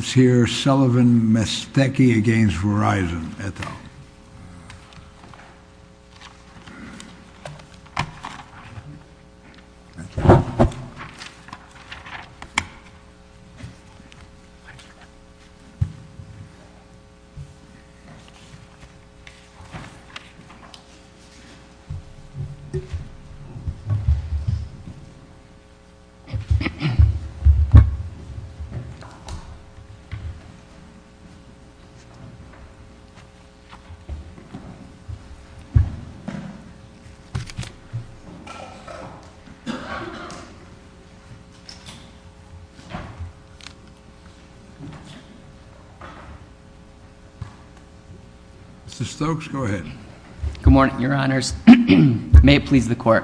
Let's hear Sullivan-Mestecky v. Verizon, et al. Mr. Stokes, go ahead. Good morning, your honors. May it please the court.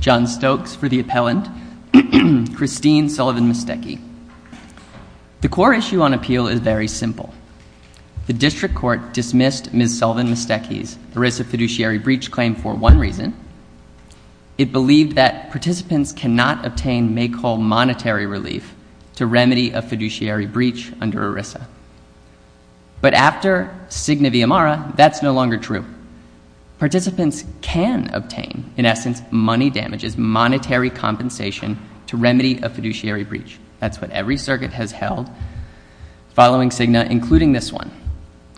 John Stokes for the appellant. Christine Sullivan-Mestecky. The core issue on appeal is very simple. The district court dismissed Ms. Sullivan-Mestecky's ERISA fiduciary breach claim for one reason. It believed that participants cannot obtain make-all monetary relief to remedy a fiduciary breach under ERISA. But after Cigna v. Amara, that's no longer true. Participants can obtain, in essence, money damages, which is monetary compensation to remedy a fiduciary breach. That's what every circuit has held following Cigna, including this one.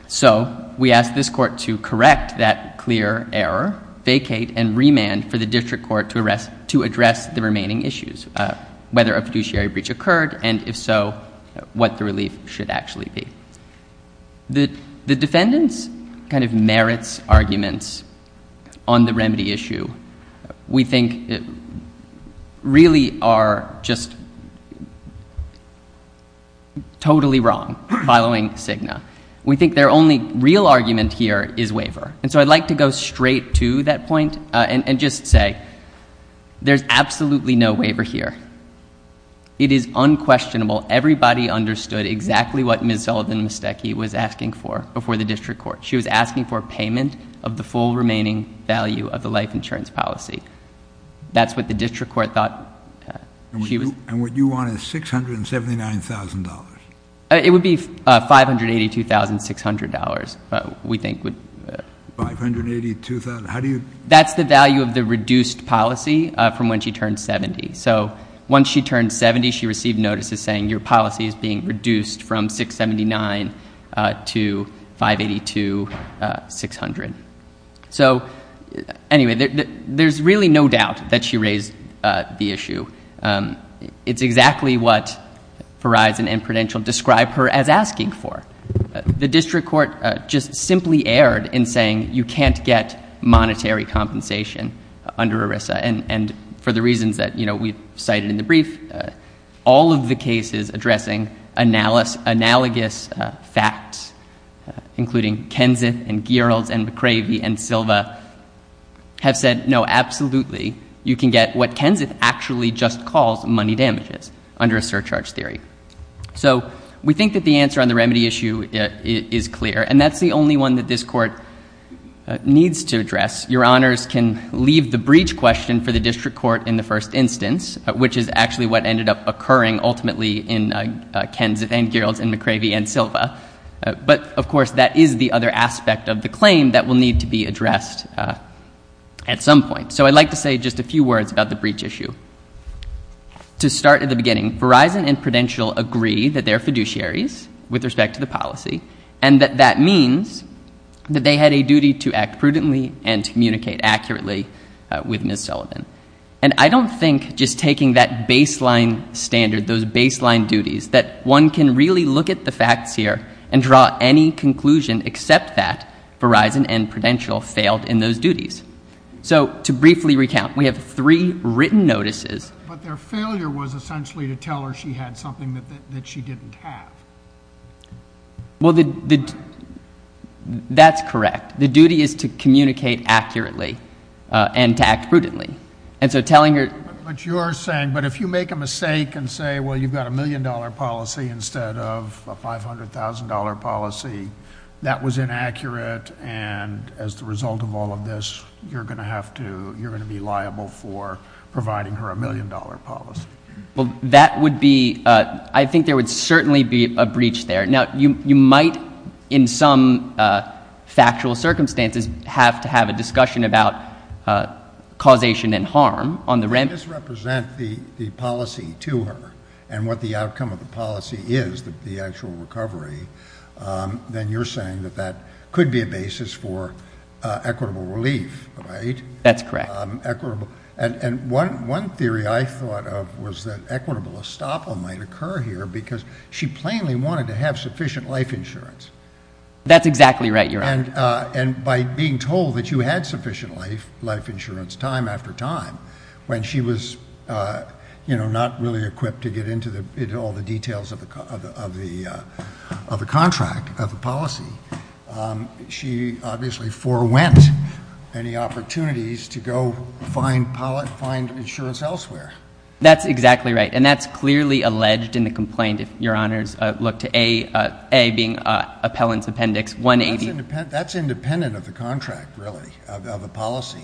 So we ask this court to correct that clear error, vacate, and remand for the district court to address the remaining issues, whether a fiduciary breach occurred, and if so, what the relief should actually be. The defendants kind of merits arguments on the remedy issue. We think it really are just totally wrong following Cigna. We think their only real argument here is waiver. And so I'd like to go straight to that point and just say there's absolutely no waiver here. It is unquestionable. Everybody understood exactly what Ms. Sullivan-Mestecky was asking for before the district court. She was asking for payment of the full remaining value of the life insurance policy. That's what the district court thought. And what you want is $679,000. It would be $582,600, we think. $582,000? That's the value of the reduced policy from when she turned 70. So once she turned 70, she received notices saying, your policy is being reduced from $679,000 to $582,600. So anyway, there's really no doubt that she raised the issue. It's exactly what Verizon and Prudential described her as asking for. The district court just simply erred in saying, you can't get monetary compensation under ERISA. And for the reasons that we cited in the brief, all of the cases addressing analogous facts, including Kenseth and Geralds and McCravey and Silva, have said, no, absolutely, you can get what Kenseth actually just calls money damages under a surcharge theory. So we think that the answer on the remedy issue is clear, and that's the only one that this court needs to address. Your Honors can leave the breach question for the district court in the first instance, which is actually what ended up occurring ultimately in Kenseth and Geralds and McCravey and Silva. But, of course, that is the other aspect of the claim that will need to be addressed at some point. So I'd like to say just a few words about the breach issue. To start at the beginning, Verizon and Prudential agree that they're fiduciaries with respect to the policy, and that that means that they had a duty to act prudently and to communicate accurately with Ms. Sullivan. And I don't think just taking that baseline standard, those baseline duties, that one can really look at the facts here and draw any conclusion except that Verizon and Prudential failed in those duties. So to briefly recount, we have three written notices. But their failure was essentially to tell her she had something that she didn't have. Well, that's correct. The duty is to communicate accurately and to act prudently. But you're saying, but if you make a mistake and say, well, you've got a million-dollar policy instead of a $500,000 policy, that was inaccurate, and as the result of all of this, you're going to have to, you're going to be liable for providing her a million-dollar policy. Well, that would be, I think there would certainly be a breach there. Now, you might in some factual circumstances have to have a discussion about causation and harm on the rent. If you misrepresent the policy to her and what the outcome of the policy is, the actual recovery, then you're saying that that could be a basis for equitable relief, right? That's correct. And one theory I thought of was that equitable estoppel might occur here because she plainly wanted to have sufficient life insurance. That's exactly right, Your Honor. And by being told that you had sufficient life insurance time after time, when she was not really equipped to get into all the details of the contract, of the policy, she obviously forewent any opportunities to go find insurance elsewhere. That's exactly right. And that's clearly alleged in the complaint, if Your Honors look to A, A being appellant's appendix 180. That's independent of the contract, really, of the policy.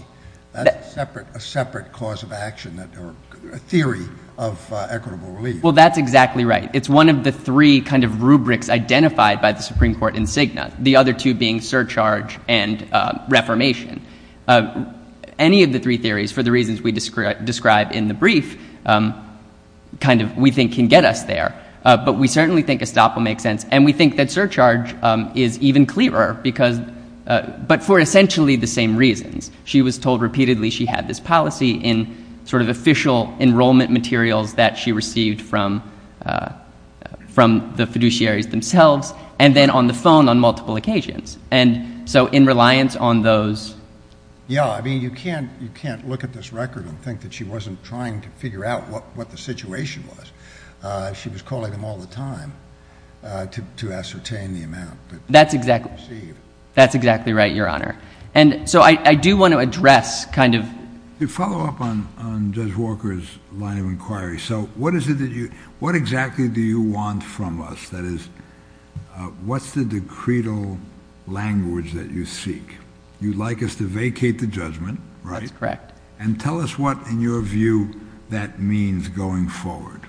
That's a separate cause of action or theory of equitable relief. Well, that's exactly right. It's one of the three kind of rubrics identified by the Supreme Court in Cigna, the other two being surcharge and reformation. Any of the three theories, for the reasons we described in the brief, kind of we think can get us there. But we certainly think estoppel makes sense, and we think that surcharge is even clearer, but for essentially the same reasons. She was told repeatedly she had this policy in sort of official enrollment materials that she received from the fiduciaries themselves, and then on the phone on multiple occasions, and so in reliance on those. Yeah. I mean, you can't look at this record and think that she wasn't trying to figure out what the situation was. She was calling them all the time to ascertain the amount that she received. That's exactly right, Your Honor. And so I do want to address kind of. To follow up on Judge Walker's line of inquiry, so what exactly do you want from us? That is, what's the decretal language that you seek? You'd like us to vacate the judgment, right? That's correct. And tell us what, in your view, that means going forward.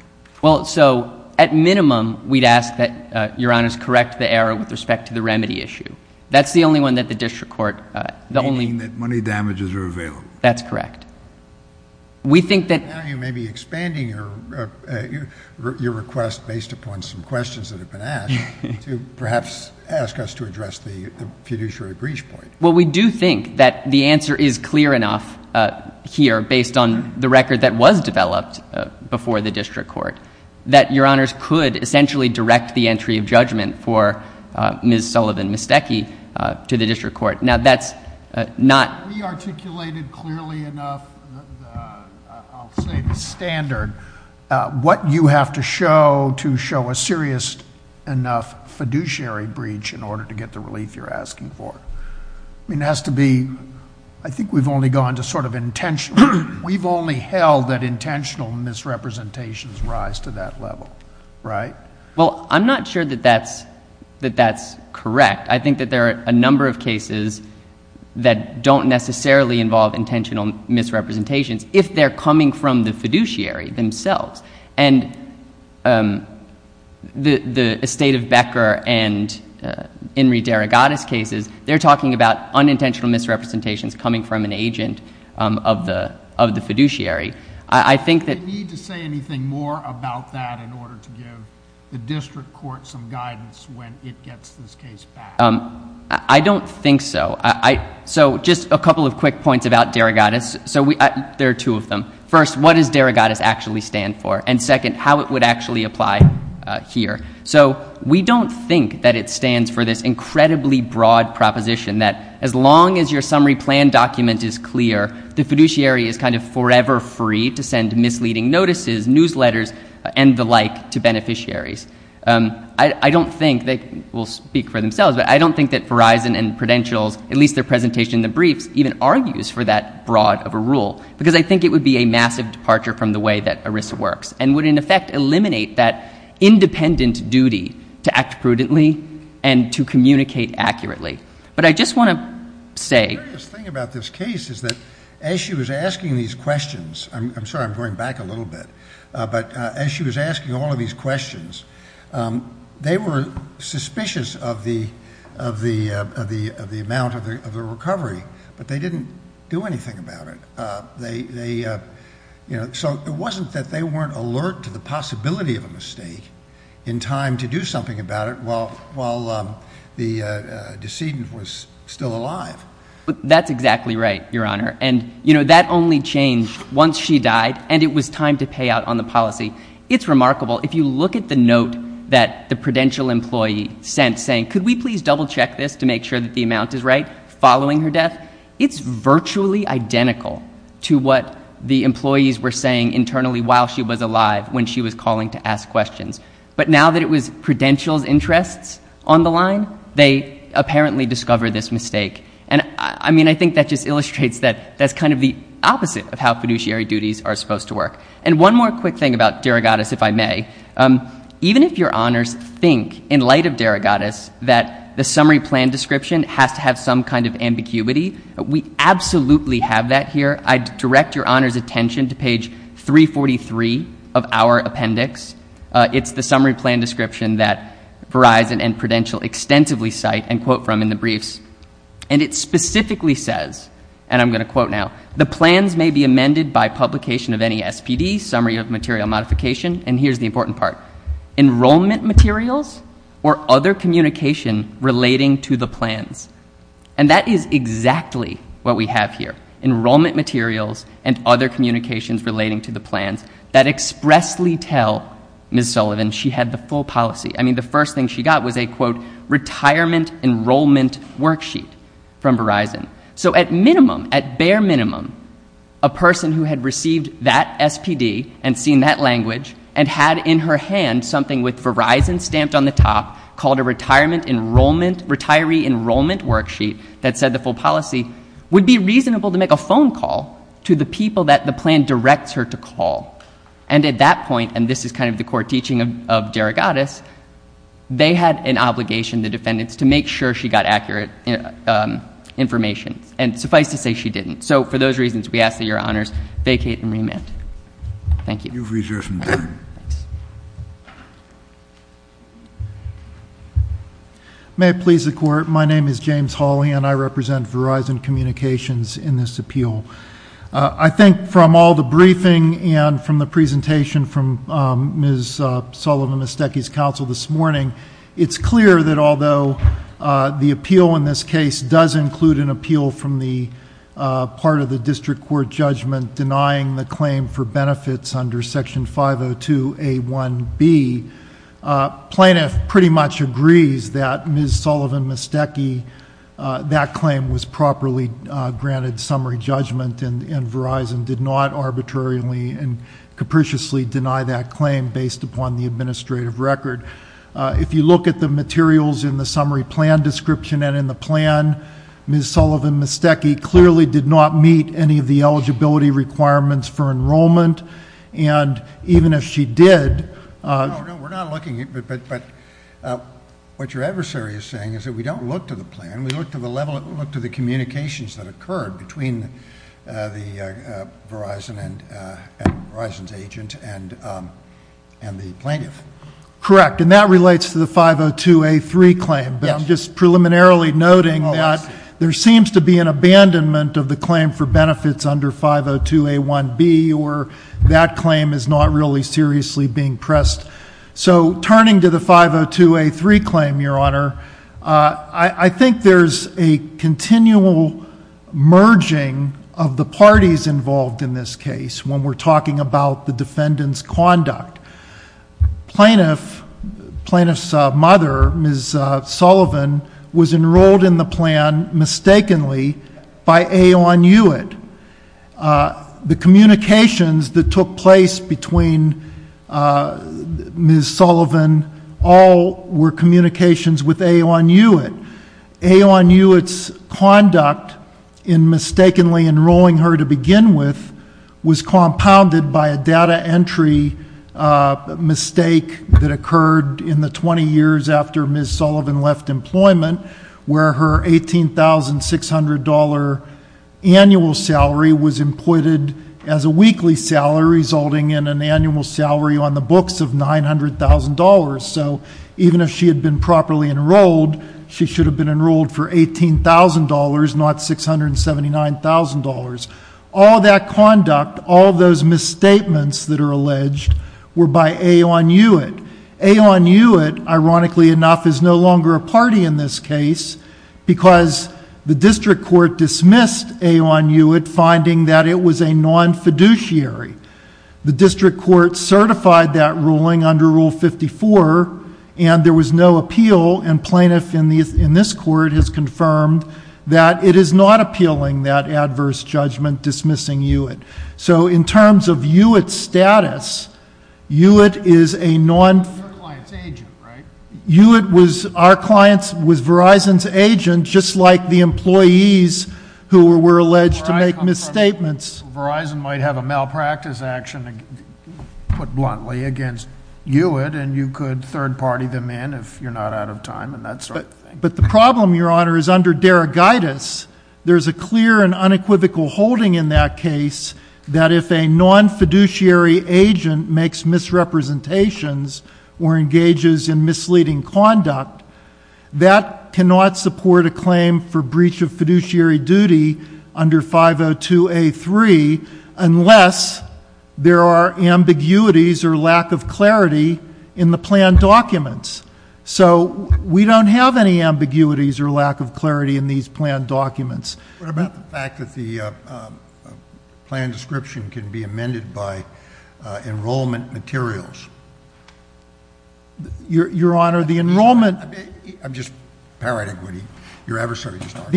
Well, so at minimum, we'd ask that Your Honors correct the error with respect to the remedy issue. That's the only one that the district court, the only. Meaning that money damages are available. That's correct. We think that. Now you may be expanding your request based upon some questions that have been asked to perhaps ask us to address the fiduciary breach point. Well, we do think that the answer is clear enough here based on the record that was developed before the district court, that Your Honors could essentially direct the entry of judgment for Ms. Sullivan-Misteki to the district court. Now, that's not. We articulated clearly enough, I'll say the standard, what you have to show to show a serious enough fiduciary breach in order to get the relief you're asking for. I mean, it has to be, I think we've only gone to sort of intentional. We've only held that intentional misrepresentations rise to that level, right? Well, I'm not sure that that's correct. I think that there are a number of cases that don't necessarily involve intentional misrepresentations if they're coming from the fiduciary themselves. And the estate of Becker and Enri DeRogatis cases, they're talking about unintentional misrepresentations coming from an agent of the fiduciary. Do you need to say anything more about that in order to give the district court some guidance when it gets this case back? I don't think so. So just a couple of quick points about DeRogatis. There are two of them. First, what does DeRogatis actually stand for? And second, how it would actually apply here. So we don't think that it stands for this incredibly broad proposition that as long as your summary plan document is clear, the fiduciary is kind of forever free to send misleading notices, newsletters, and the like to beneficiaries. I don't think they will speak for themselves, but I don't think that Verizon and Prudential's, at least their presentation in the briefs, even argues for that broad of a rule because I think it would be a massive departure from the way that ERISA works and would, in effect, eliminate that independent duty to act prudently and to communicate accurately. But I just want to say— The curious thing about this case is that as she was asking these questions, I'm sorry, I'm going back a little bit, but as she was asking all of these questions, they were suspicious of the amount of the recovery, but they didn't do anything about it. So it wasn't that they weren't alert to the possibility of a mistake in time to do something about it while the decedent was still alive. That's exactly right, Your Honor. And, you know, that only changed once she died and it was time to pay out on the policy. It's remarkable. If you look at the note that the Prudential employee sent saying, could we please double-check this to make sure that the amount is right following her death, it's virtually identical to what the employees were saying internally while she was alive when she was calling to ask questions. But now that it was Prudential's interests on the line, they apparently discovered this mistake. And, I mean, I think that just illustrates that that's kind of the opposite of how fiduciary duties are supposed to work. And one more quick thing about Derogatus, if I may. Even if Your Honors think, in light of Derogatus, that the summary plan description has to have some kind of ambiguity, we absolutely have that here. I direct Your Honors' attention to page 343 of our appendix. It's the summary plan description that Verizon and Prudential extensively cite and quote from in the briefs. And it specifically says, and I'm going to quote now, the plans may be amended by publication of any SPD, summary of material modification. And here's the important part. Enrollment materials or other communication relating to the plans. And that is exactly what we have here. Enrollment materials and other communications relating to the plans that expressly tell Ms. Sullivan she had the full policy. I mean, the first thing she got was a, quote, retirement enrollment worksheet from Verizon. So at minimum, at bare minimum, a person who had received that SPD and seen that language and had in her hand something with Verizon stamped on the top called a retirement enrollment, retiree enrollment worksheet that said the full policy would be reasonable to make a phone call to the people that the plan directs her to call. And at that point, and this is kind of the court teaching of Derogatus, they had an obligation, the defendants, to make sure she got accurate information. And suffice to say she didn't. So for those reasons, we ask that Your Honors vacate and remand. Thank you. Thanks. May it please the Court. My name is James Hawley, and I represent Verizon Communications in this appeal. I think from all the briefing and from the presentation from Ms. Sullivan, Ms. Stecke's counsel this morning, it's clear that although the appeal in this case does include an appeal from the part of the district court judgment denying the claim for benefits under Section 502A1B, plaintiff pretty much agrees that Ms. Sullivan, Ms. Stecke, that claim was properly granted summary judgment and Verizon did not arbitrarily and capriciously deny that claim based upon the administrative record. If you look at the materials in the summary plan description and in the plan, Ms. Sullivan, Ms. Stecke clearly did not meet any of the eligibility requirements for enrollment. And even if she did. No, no, we're not looking at it. But what your adversary is saying is that we don't look to the plan. We look to the level of the communications that occurred between Verizon's agent and the plaintiff. Correct. And that relates to the 502A3 claim. I'm just preliminarily noting that there seems to be an abandonment of the claim for benefits under 502A1B or that claim is not really seriously being pressed. So turning to the 502A3 claim, Your Honor, I think there's a continual merging of the parties involved in this case when we're talking about the defendant's conduct. Plaintiff's mother, Ms. Sullivan, was enrolled in the plan mistakenly by Aeon Hewitt. The communications that took place between Ms. Sullivan all were communications with Aeon Hewitt. Aeon Hewitt's conduct in mistakenly enrolling her to begin with was compounded by a data entry mistake that occurred in the 20 years after Ms. Sullivan left employment where her $18,600 annual salary was imputed as a weekly salary resulting in an annual salary on the books of $900,000. So even if she had been properly enrolled, she should have been enrolled for $18,000, not $679,000. All that conduct, all those misstatements that are alleged were by Aeon Hewitt. Aeon Hewitt, ironically enough, is no longer a party in this case because the district court dismissed Aeon Hewitt finding that it was a non-fiduciary. The district court certified that ruling under Rule 54 and there was no appeal and plaintiff in this court has confirmed that it is not appealing that adverse judgment dismissing Hewitt. So in terms of Hewitt's status, Hewitt is a non- Hewitt was Verizon's agent just like the employees who were alleged to make misstatements. Verizon might have a malpractice action, put bluntly, against Hewitt and you could third party them in if you're not out of time and that sort of thing. But the problem, Your Honor, is under derogatis, there's a clear and unequivocal holding in that case that if a non-fiduciary agent makes misrepresentations or engages in misleading conduct, that cannot support a claim for breach of fiduciary duty under 502A3 unless there are ambiguities or lack of clarity in the plan documents. So we don't have any ambiguities or lack of clarity in these plan documents. What about the fact that the plan description can be amended by enrollment materials? Your Honor, the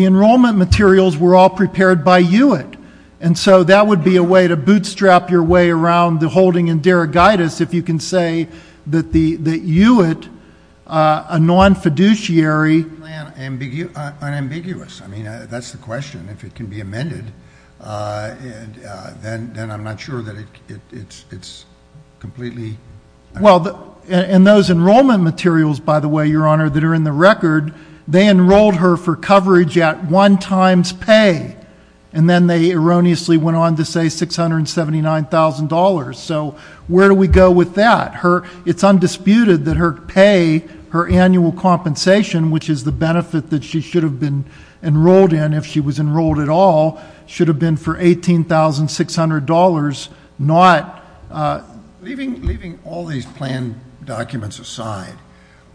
enrollment materials were all prepared by Hewitt. And so that would be a way to bootstrap your way around the holding in derogatis if you can say that Hewitt, a non-fiduciary- Well, and those enrollment materials, by the way, Your Honor, that are in the record, they enrolled her for coverage at one times pay. And then they erroneously went on to say $679,000. So where do we go with that? It's undisputed that her pay, her annual compensation, which is the benefit that she should have been enrolled in if she was enrolled at all, should have been for $18,600, not- Leaving all these plan documents aside,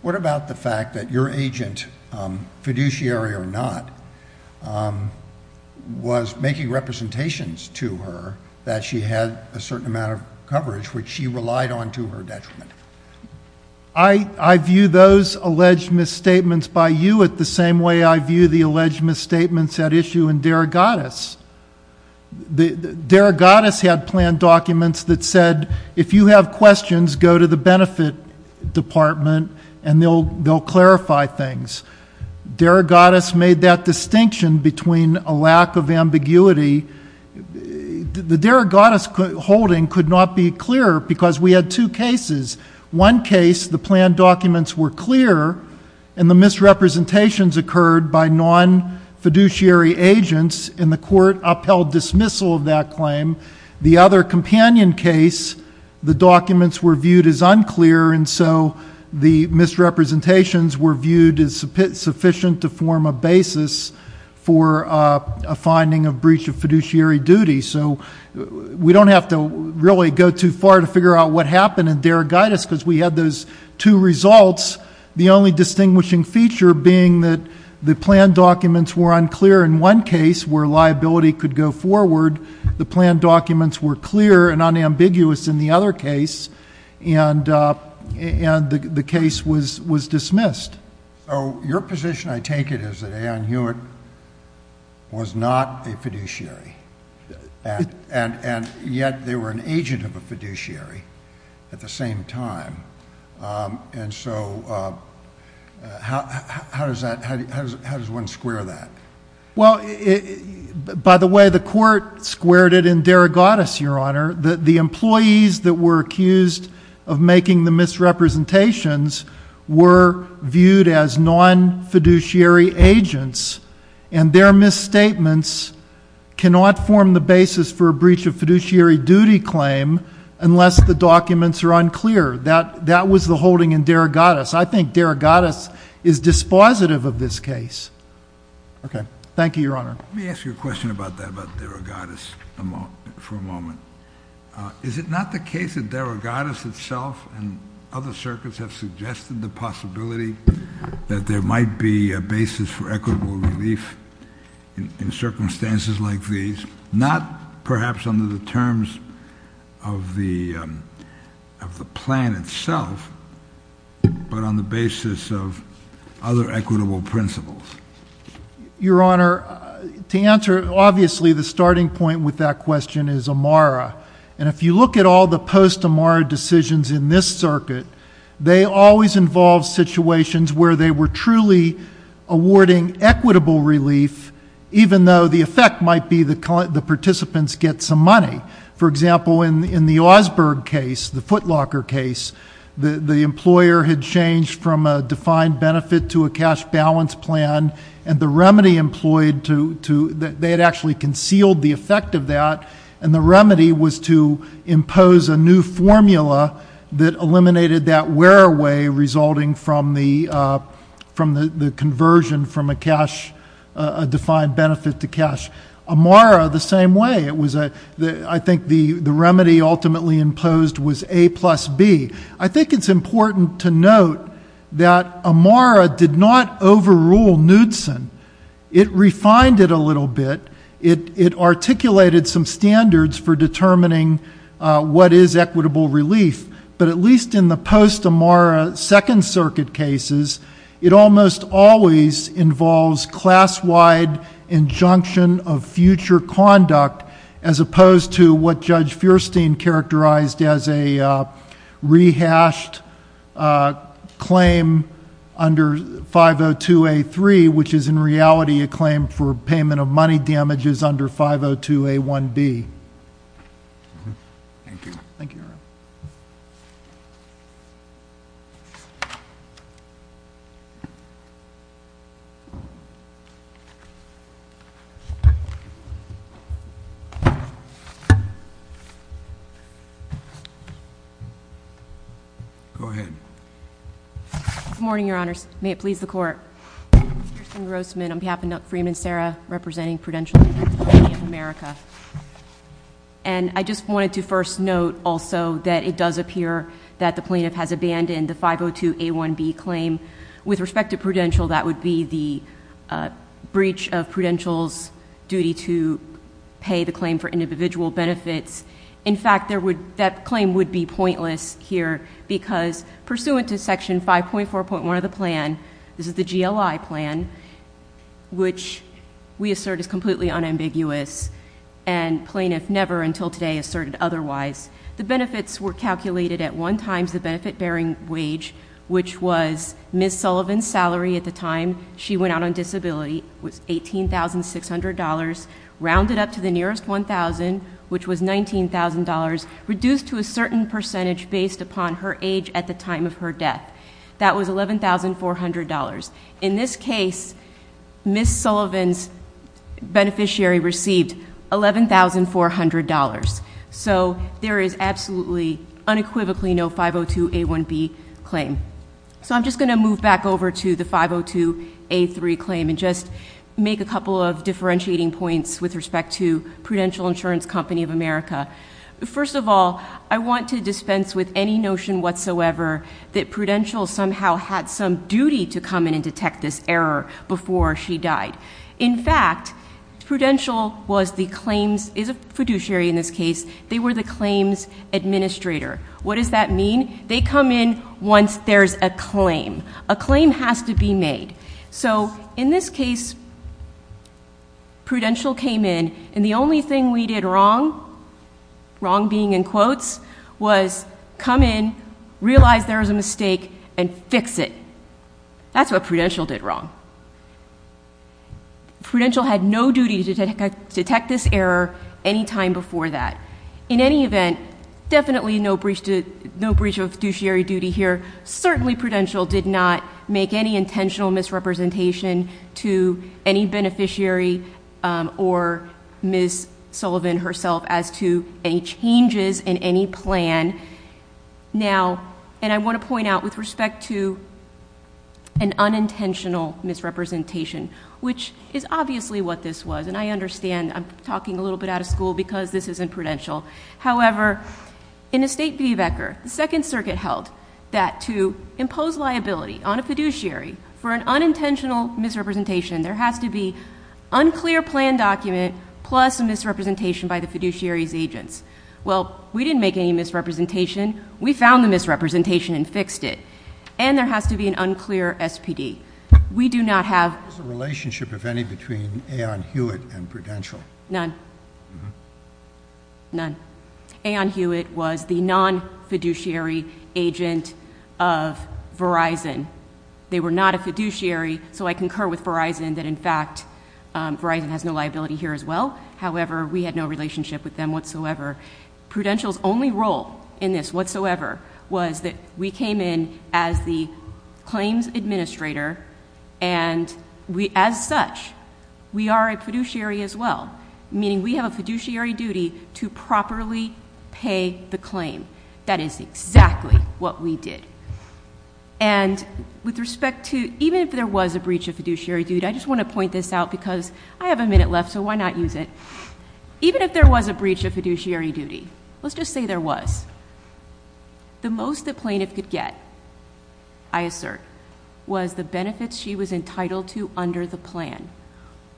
what about the fact that your agent, fiduciary or not, was making representations to her that she had a certain amount of coverage, which she relied on to her detriment? I view those alleged misstatements by Hewitt the same way I view the alleged misstatements at issue in derogatis. Derogatis had plan documents that said, if you have questions, go to the benefit department and they'll clarify things. Derogatis made that distinction between a lack of ambiguity. The derogatis holding could not be clearer because we had two cases. One case, the plan documents were clear, and the misrepresentations occurred by non-fiduciary agents, and the court upheld dismissal of that claim. The other companion case, the documents were viewed as unclear, and so the misrepresentations were viewed as sufficient to form a basis for a finding of breach of fiduciary duty. So we don't have to really go too far to figure out what happened in derogatis because we had those two results. The only distinguishing feature being that the plan documents were unclear in one case where liability could go forward. The plan documents were clear and unambiguous in the other case, and the case was dismissed. So your position, I take it, is that Ann Hewitt was not a fiduciary, and yet they were an agent of a fiduciary at the same time. And so how does one square that? Well, by the way, the court squared it in derogatis, Your Honor. The employees that were accused of making the misrepresentations were viewed as non-fiduciary agents, and their misstatements cannot form the basis for a breach of fiduciary duty claim unless the documents are unclear. That was the holding in derogatis. I think derogatis is dispositive of this case. Okay. Thank you, Your Honor. Let me ask you a question about that, about derogatis for a moment. Is it not the case that derogatis itself and other circuits have suggested the possibility that there might be a basis for equitable relief in circumstances like these, not perhaps under the terms of the plan itself, but on the basis of other equitable principles? Your Honor, to answer, obviously, the starting point with that question is AMARA. And if you look at all the post-AMARA decisions in this circuit, they always involve situations where they were truly awarding equitable relief, even though the effect might be the participants get some money. For example, in the Augsburg case, the Footlocker case, the employer had changed from a defined benefit to a cash balance plan, and the remedy employed to that they had actually concealed the effect of that, and the remedy was to impose a new formula that eliminated that wear-away resulting from the conversion from a defined benefit to cash. AMARA, the same way. I think the remedy ultimately imposed was A plus B. I think it's important to note that AMARA did not overrule Knudsen. It refined it a little bit. It articulated some standards for determining what is equitable relief. But at least in the post-AMARA Second Circuit cases, it almost always involves class-wide injunction of future conduct, as opposed to what Judge Feuerstein characterized as a rehashed claim under 502A3, which is in reality a claim for payment of money damages under 502A1B. Thank you. Thank you, Your Honor. Go ahead. Good morning, Your Honors. May it please the Court. Kirsten Grossman on behalf of Freeman and Serra, representing Prudential, the Tax Authority of America. And I just wanted to first note also that it does appear that the plaintiff has abandoned the 502A1B claim. With respect to Prudential, that would be the breach of Prudential's duty to pay the claim for individual benefits. In fact, that claim would be pointless here, because pursuant to Section 5.4.1 of the plan, this is the GLI plan, which we assert is completely unambiguous, and plaintiff never until today asserted otherwise. The benefits were calculated at one times the benefit-bearing wage, which was Ms. Sullivan's salary at the time she went out on disability, was $18,600, rounded up to the nearest $1,000, which was $19,000, reduced to a certain percentage based upon her age at the time of her death. That was $11,400. In this case, Ms. Sullivan's beneficiary received $11,400. So there is absolutely, unequivocally no 502A1B claim. So I'm just going to move back over to the 502A3 claim and just make a couple of differentiating points with respect to Prudential Insurance Company of America. First of all, I want to dispense with any notion whatsoever that Prudential somehow had some duty to come in and detect this error before she died. In fact, Prudential is a fiduciary in this case. They were the claims administrator. What does that mean? They come in once there's a claim. A claim has to be made. So in this case, Prudential came in, and the only thing we did wrong, wrong being in quotes, was come in, realize there was a mistake, and fix it. That's what Prudential did wrong. Prudential had no duty to detect this error any time before that. In any event, definitely no breach of fiduciary duty here. Certainly Prudential did not make any intentional misrepresentation to any beneficiary or Ms. Sullivan herself as to any changes in any plan. Now, and I want to point out with respect to an unintentional misrepresentation, which is obviously what this was, and I understand I'm talking a little bit out of school because this isn't Prudential. However, in a State v. Becker, the Second Circuit held that to impose liability on a fiduciary for an unintentional misrepresentation, there has to be unclear plan document plus a misrepresentation by the fiduciary's agents. Well, we didn't make any misrepresentation. We found the misrepresentation and fixed it. And there has to be an unclear SPD. We do not have the relationship, if any, between Aon Hewitt and Prudential. None. None. Aon Hewitt was the non-fiduciary agent of Verizon. They were not a fiduciary, so I concur with Verizon that, in fact, Verizon has no liability here as well. However, we had no relationship with them whatsoever. Prudential's only role in this whatsoever was that we came in as the claims administrator, and as such, we are a fiduciary as well, meaning we have a fiduciary duty to properly pay the claim. That is exactly what we did. And with respect to even if there was a breach of fiduciary duty, I just want to point this out because I have a minute left, so why not use it? Even if there was a breach of fiduciary duty, let's just say there was, the most the plaintiff could get, I assert, was the benefits she was entitled to under the plan.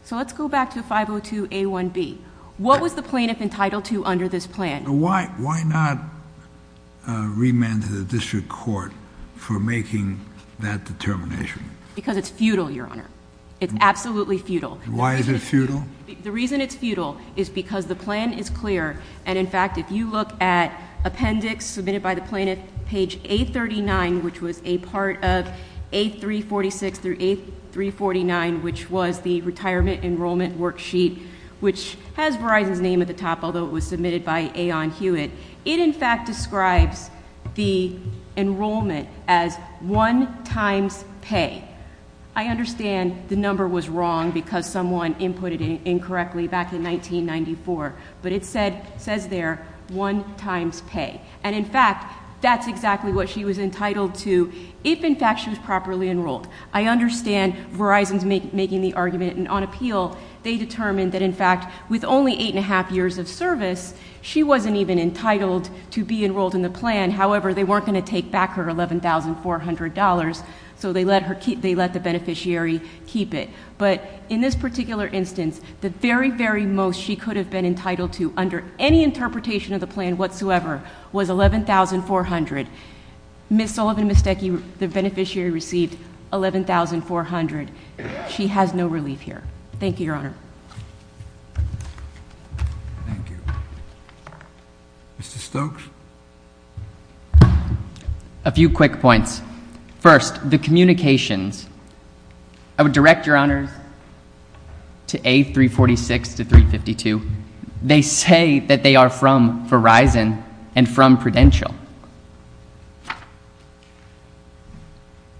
So let's go back to 502A1B. What was the plaintiff entitled to under this plan? Why not remand to the district court for making that determination? Because it's futile, Your Honor. It's absolutely futile. Why is it futile? The reason it's futile is because the plan is clear, and, in fact, if you look at appendix submitted by the plaintiff, page 839, which was a part of 8346 through 8349, which was the retirement enrollment worksheet, which has Verizon's name at the top, although it was submitted by Aeon Hewitt. It, in fact, describes the enrollment as one times pay. I understand the number was wrong because someone inputted it incorrectly back in 1994, but it says there one times pay. And, in fact, that's exactly what she was entitled to if, in fact, she was properly enrolled. I understand Verizon's making the argument, and on appeal, they determined that, in fact, with only eight and a half years of service, she wasn't even entitled to be enrolled in the plan. However, they weren't going to take back her $11,400, so they let the beneficiary keep it. But in this particular instance, the very, very most she could have been entitled to under any interpretation of the plan whatsoever was $11,400. Ms. Sullivan and Ms. Stecke, the beneficiary, received $11,400. She has no relief here. Thank you, Your Honor. Thank you. Mr. Stokes. A few quick points. First, the communications. I would direct, Your Honors, to A346 to 352. They say that they are from Verizon and from Prudential.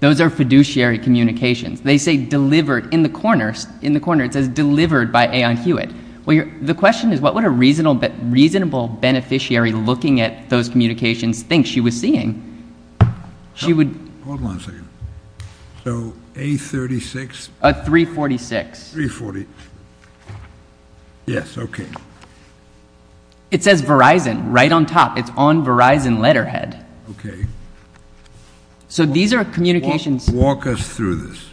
Those are fiduciary communications. They say delivered in the corner. In the corner, it says delivered by Aon Hewitt. The question is, what would a reasonable beneficiary looking at those communications think she was seeing? Hold on a second. So A36? 346. 346. Yes, okay. It says Verizon right on top. It's on Verizon letterhead. Okay. So these are communications. Walk us through this.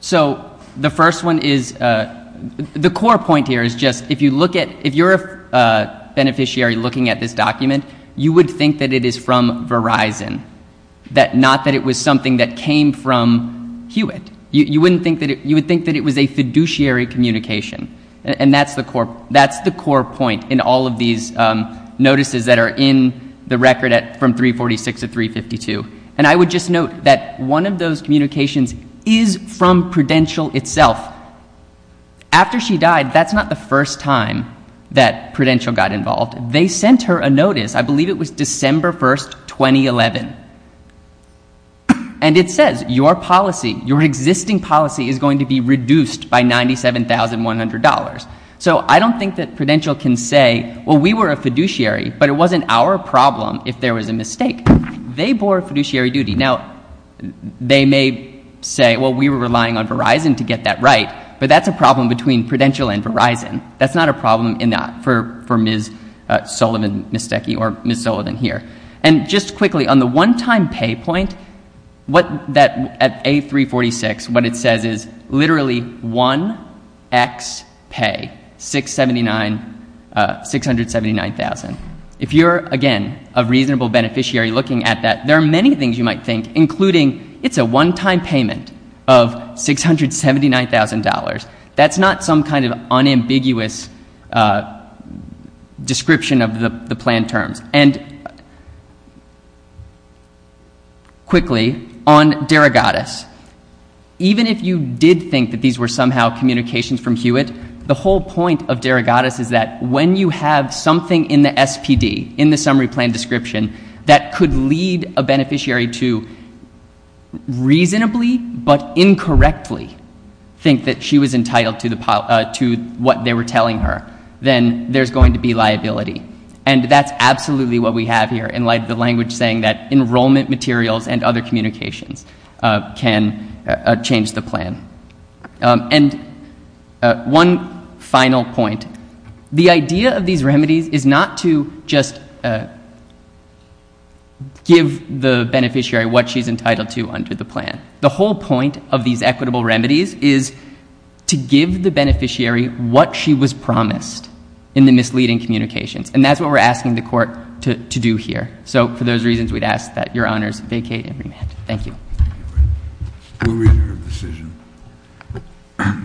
So the first one is, the core point here is just, if you're a beneficiary looking at this document, you would think that it is from Verizon, not that it was something that came from Hewitt. You would think that it was a fiduciary communication. And that's the core point in all of these notices that are in the record from 346 to 352. And I would just note that one of those communications is from Prudential itself. After she died, that's not the first time that Prudential got involved. They sent her a notice. I believe it was December 1, 2011. And it says, your policy, your existing policy is going to be reduced by $97,100. So I don't think that Prudential can say, well, we were a fiduciary, but it wasn't our problem if there was a mistake. They bore a fiduciary duty. Now, they may say, well, we were relying on Verizon to get that right, but that's a problem between Prudential and Verizon. That's not a problem for Ms. Sullivan, Ms. Stecke, or Ms. Sullivan here. And just quickly, on the one-time pay point, at A346, what it says is literally 1x pay, $679,000. If you're, again, a reasonable beneficiary looking at that, there are many things you might think, including it's a one-time payment of $679,000. That's not some kind of unambiguous description of the planned terms. And quickly, on Derogatus, even if you did think that these were somehow communications from Hewitt, the whole point of Derogatus is that when you have something in the SPD, in the summary plan description, that could lead a beneficiary to reasonably but incorrectly think that she was entitled to what they were telling her, then there's going to be liability. And that's absolutely what we have here in light of the language saying that enrollment materials and other communications can change the plan. And one final point. The idea of these remedies is not to just give the beneficiary what she's entitled to under the plan. The whole point of these equitable remedies is to give the beneficiary what she was promised in the misleading communications. And that's what we're asking the Court to do here. So for those reasons, we'd ask that Your Honors vacate and remand. Thank you. We'll read your decision.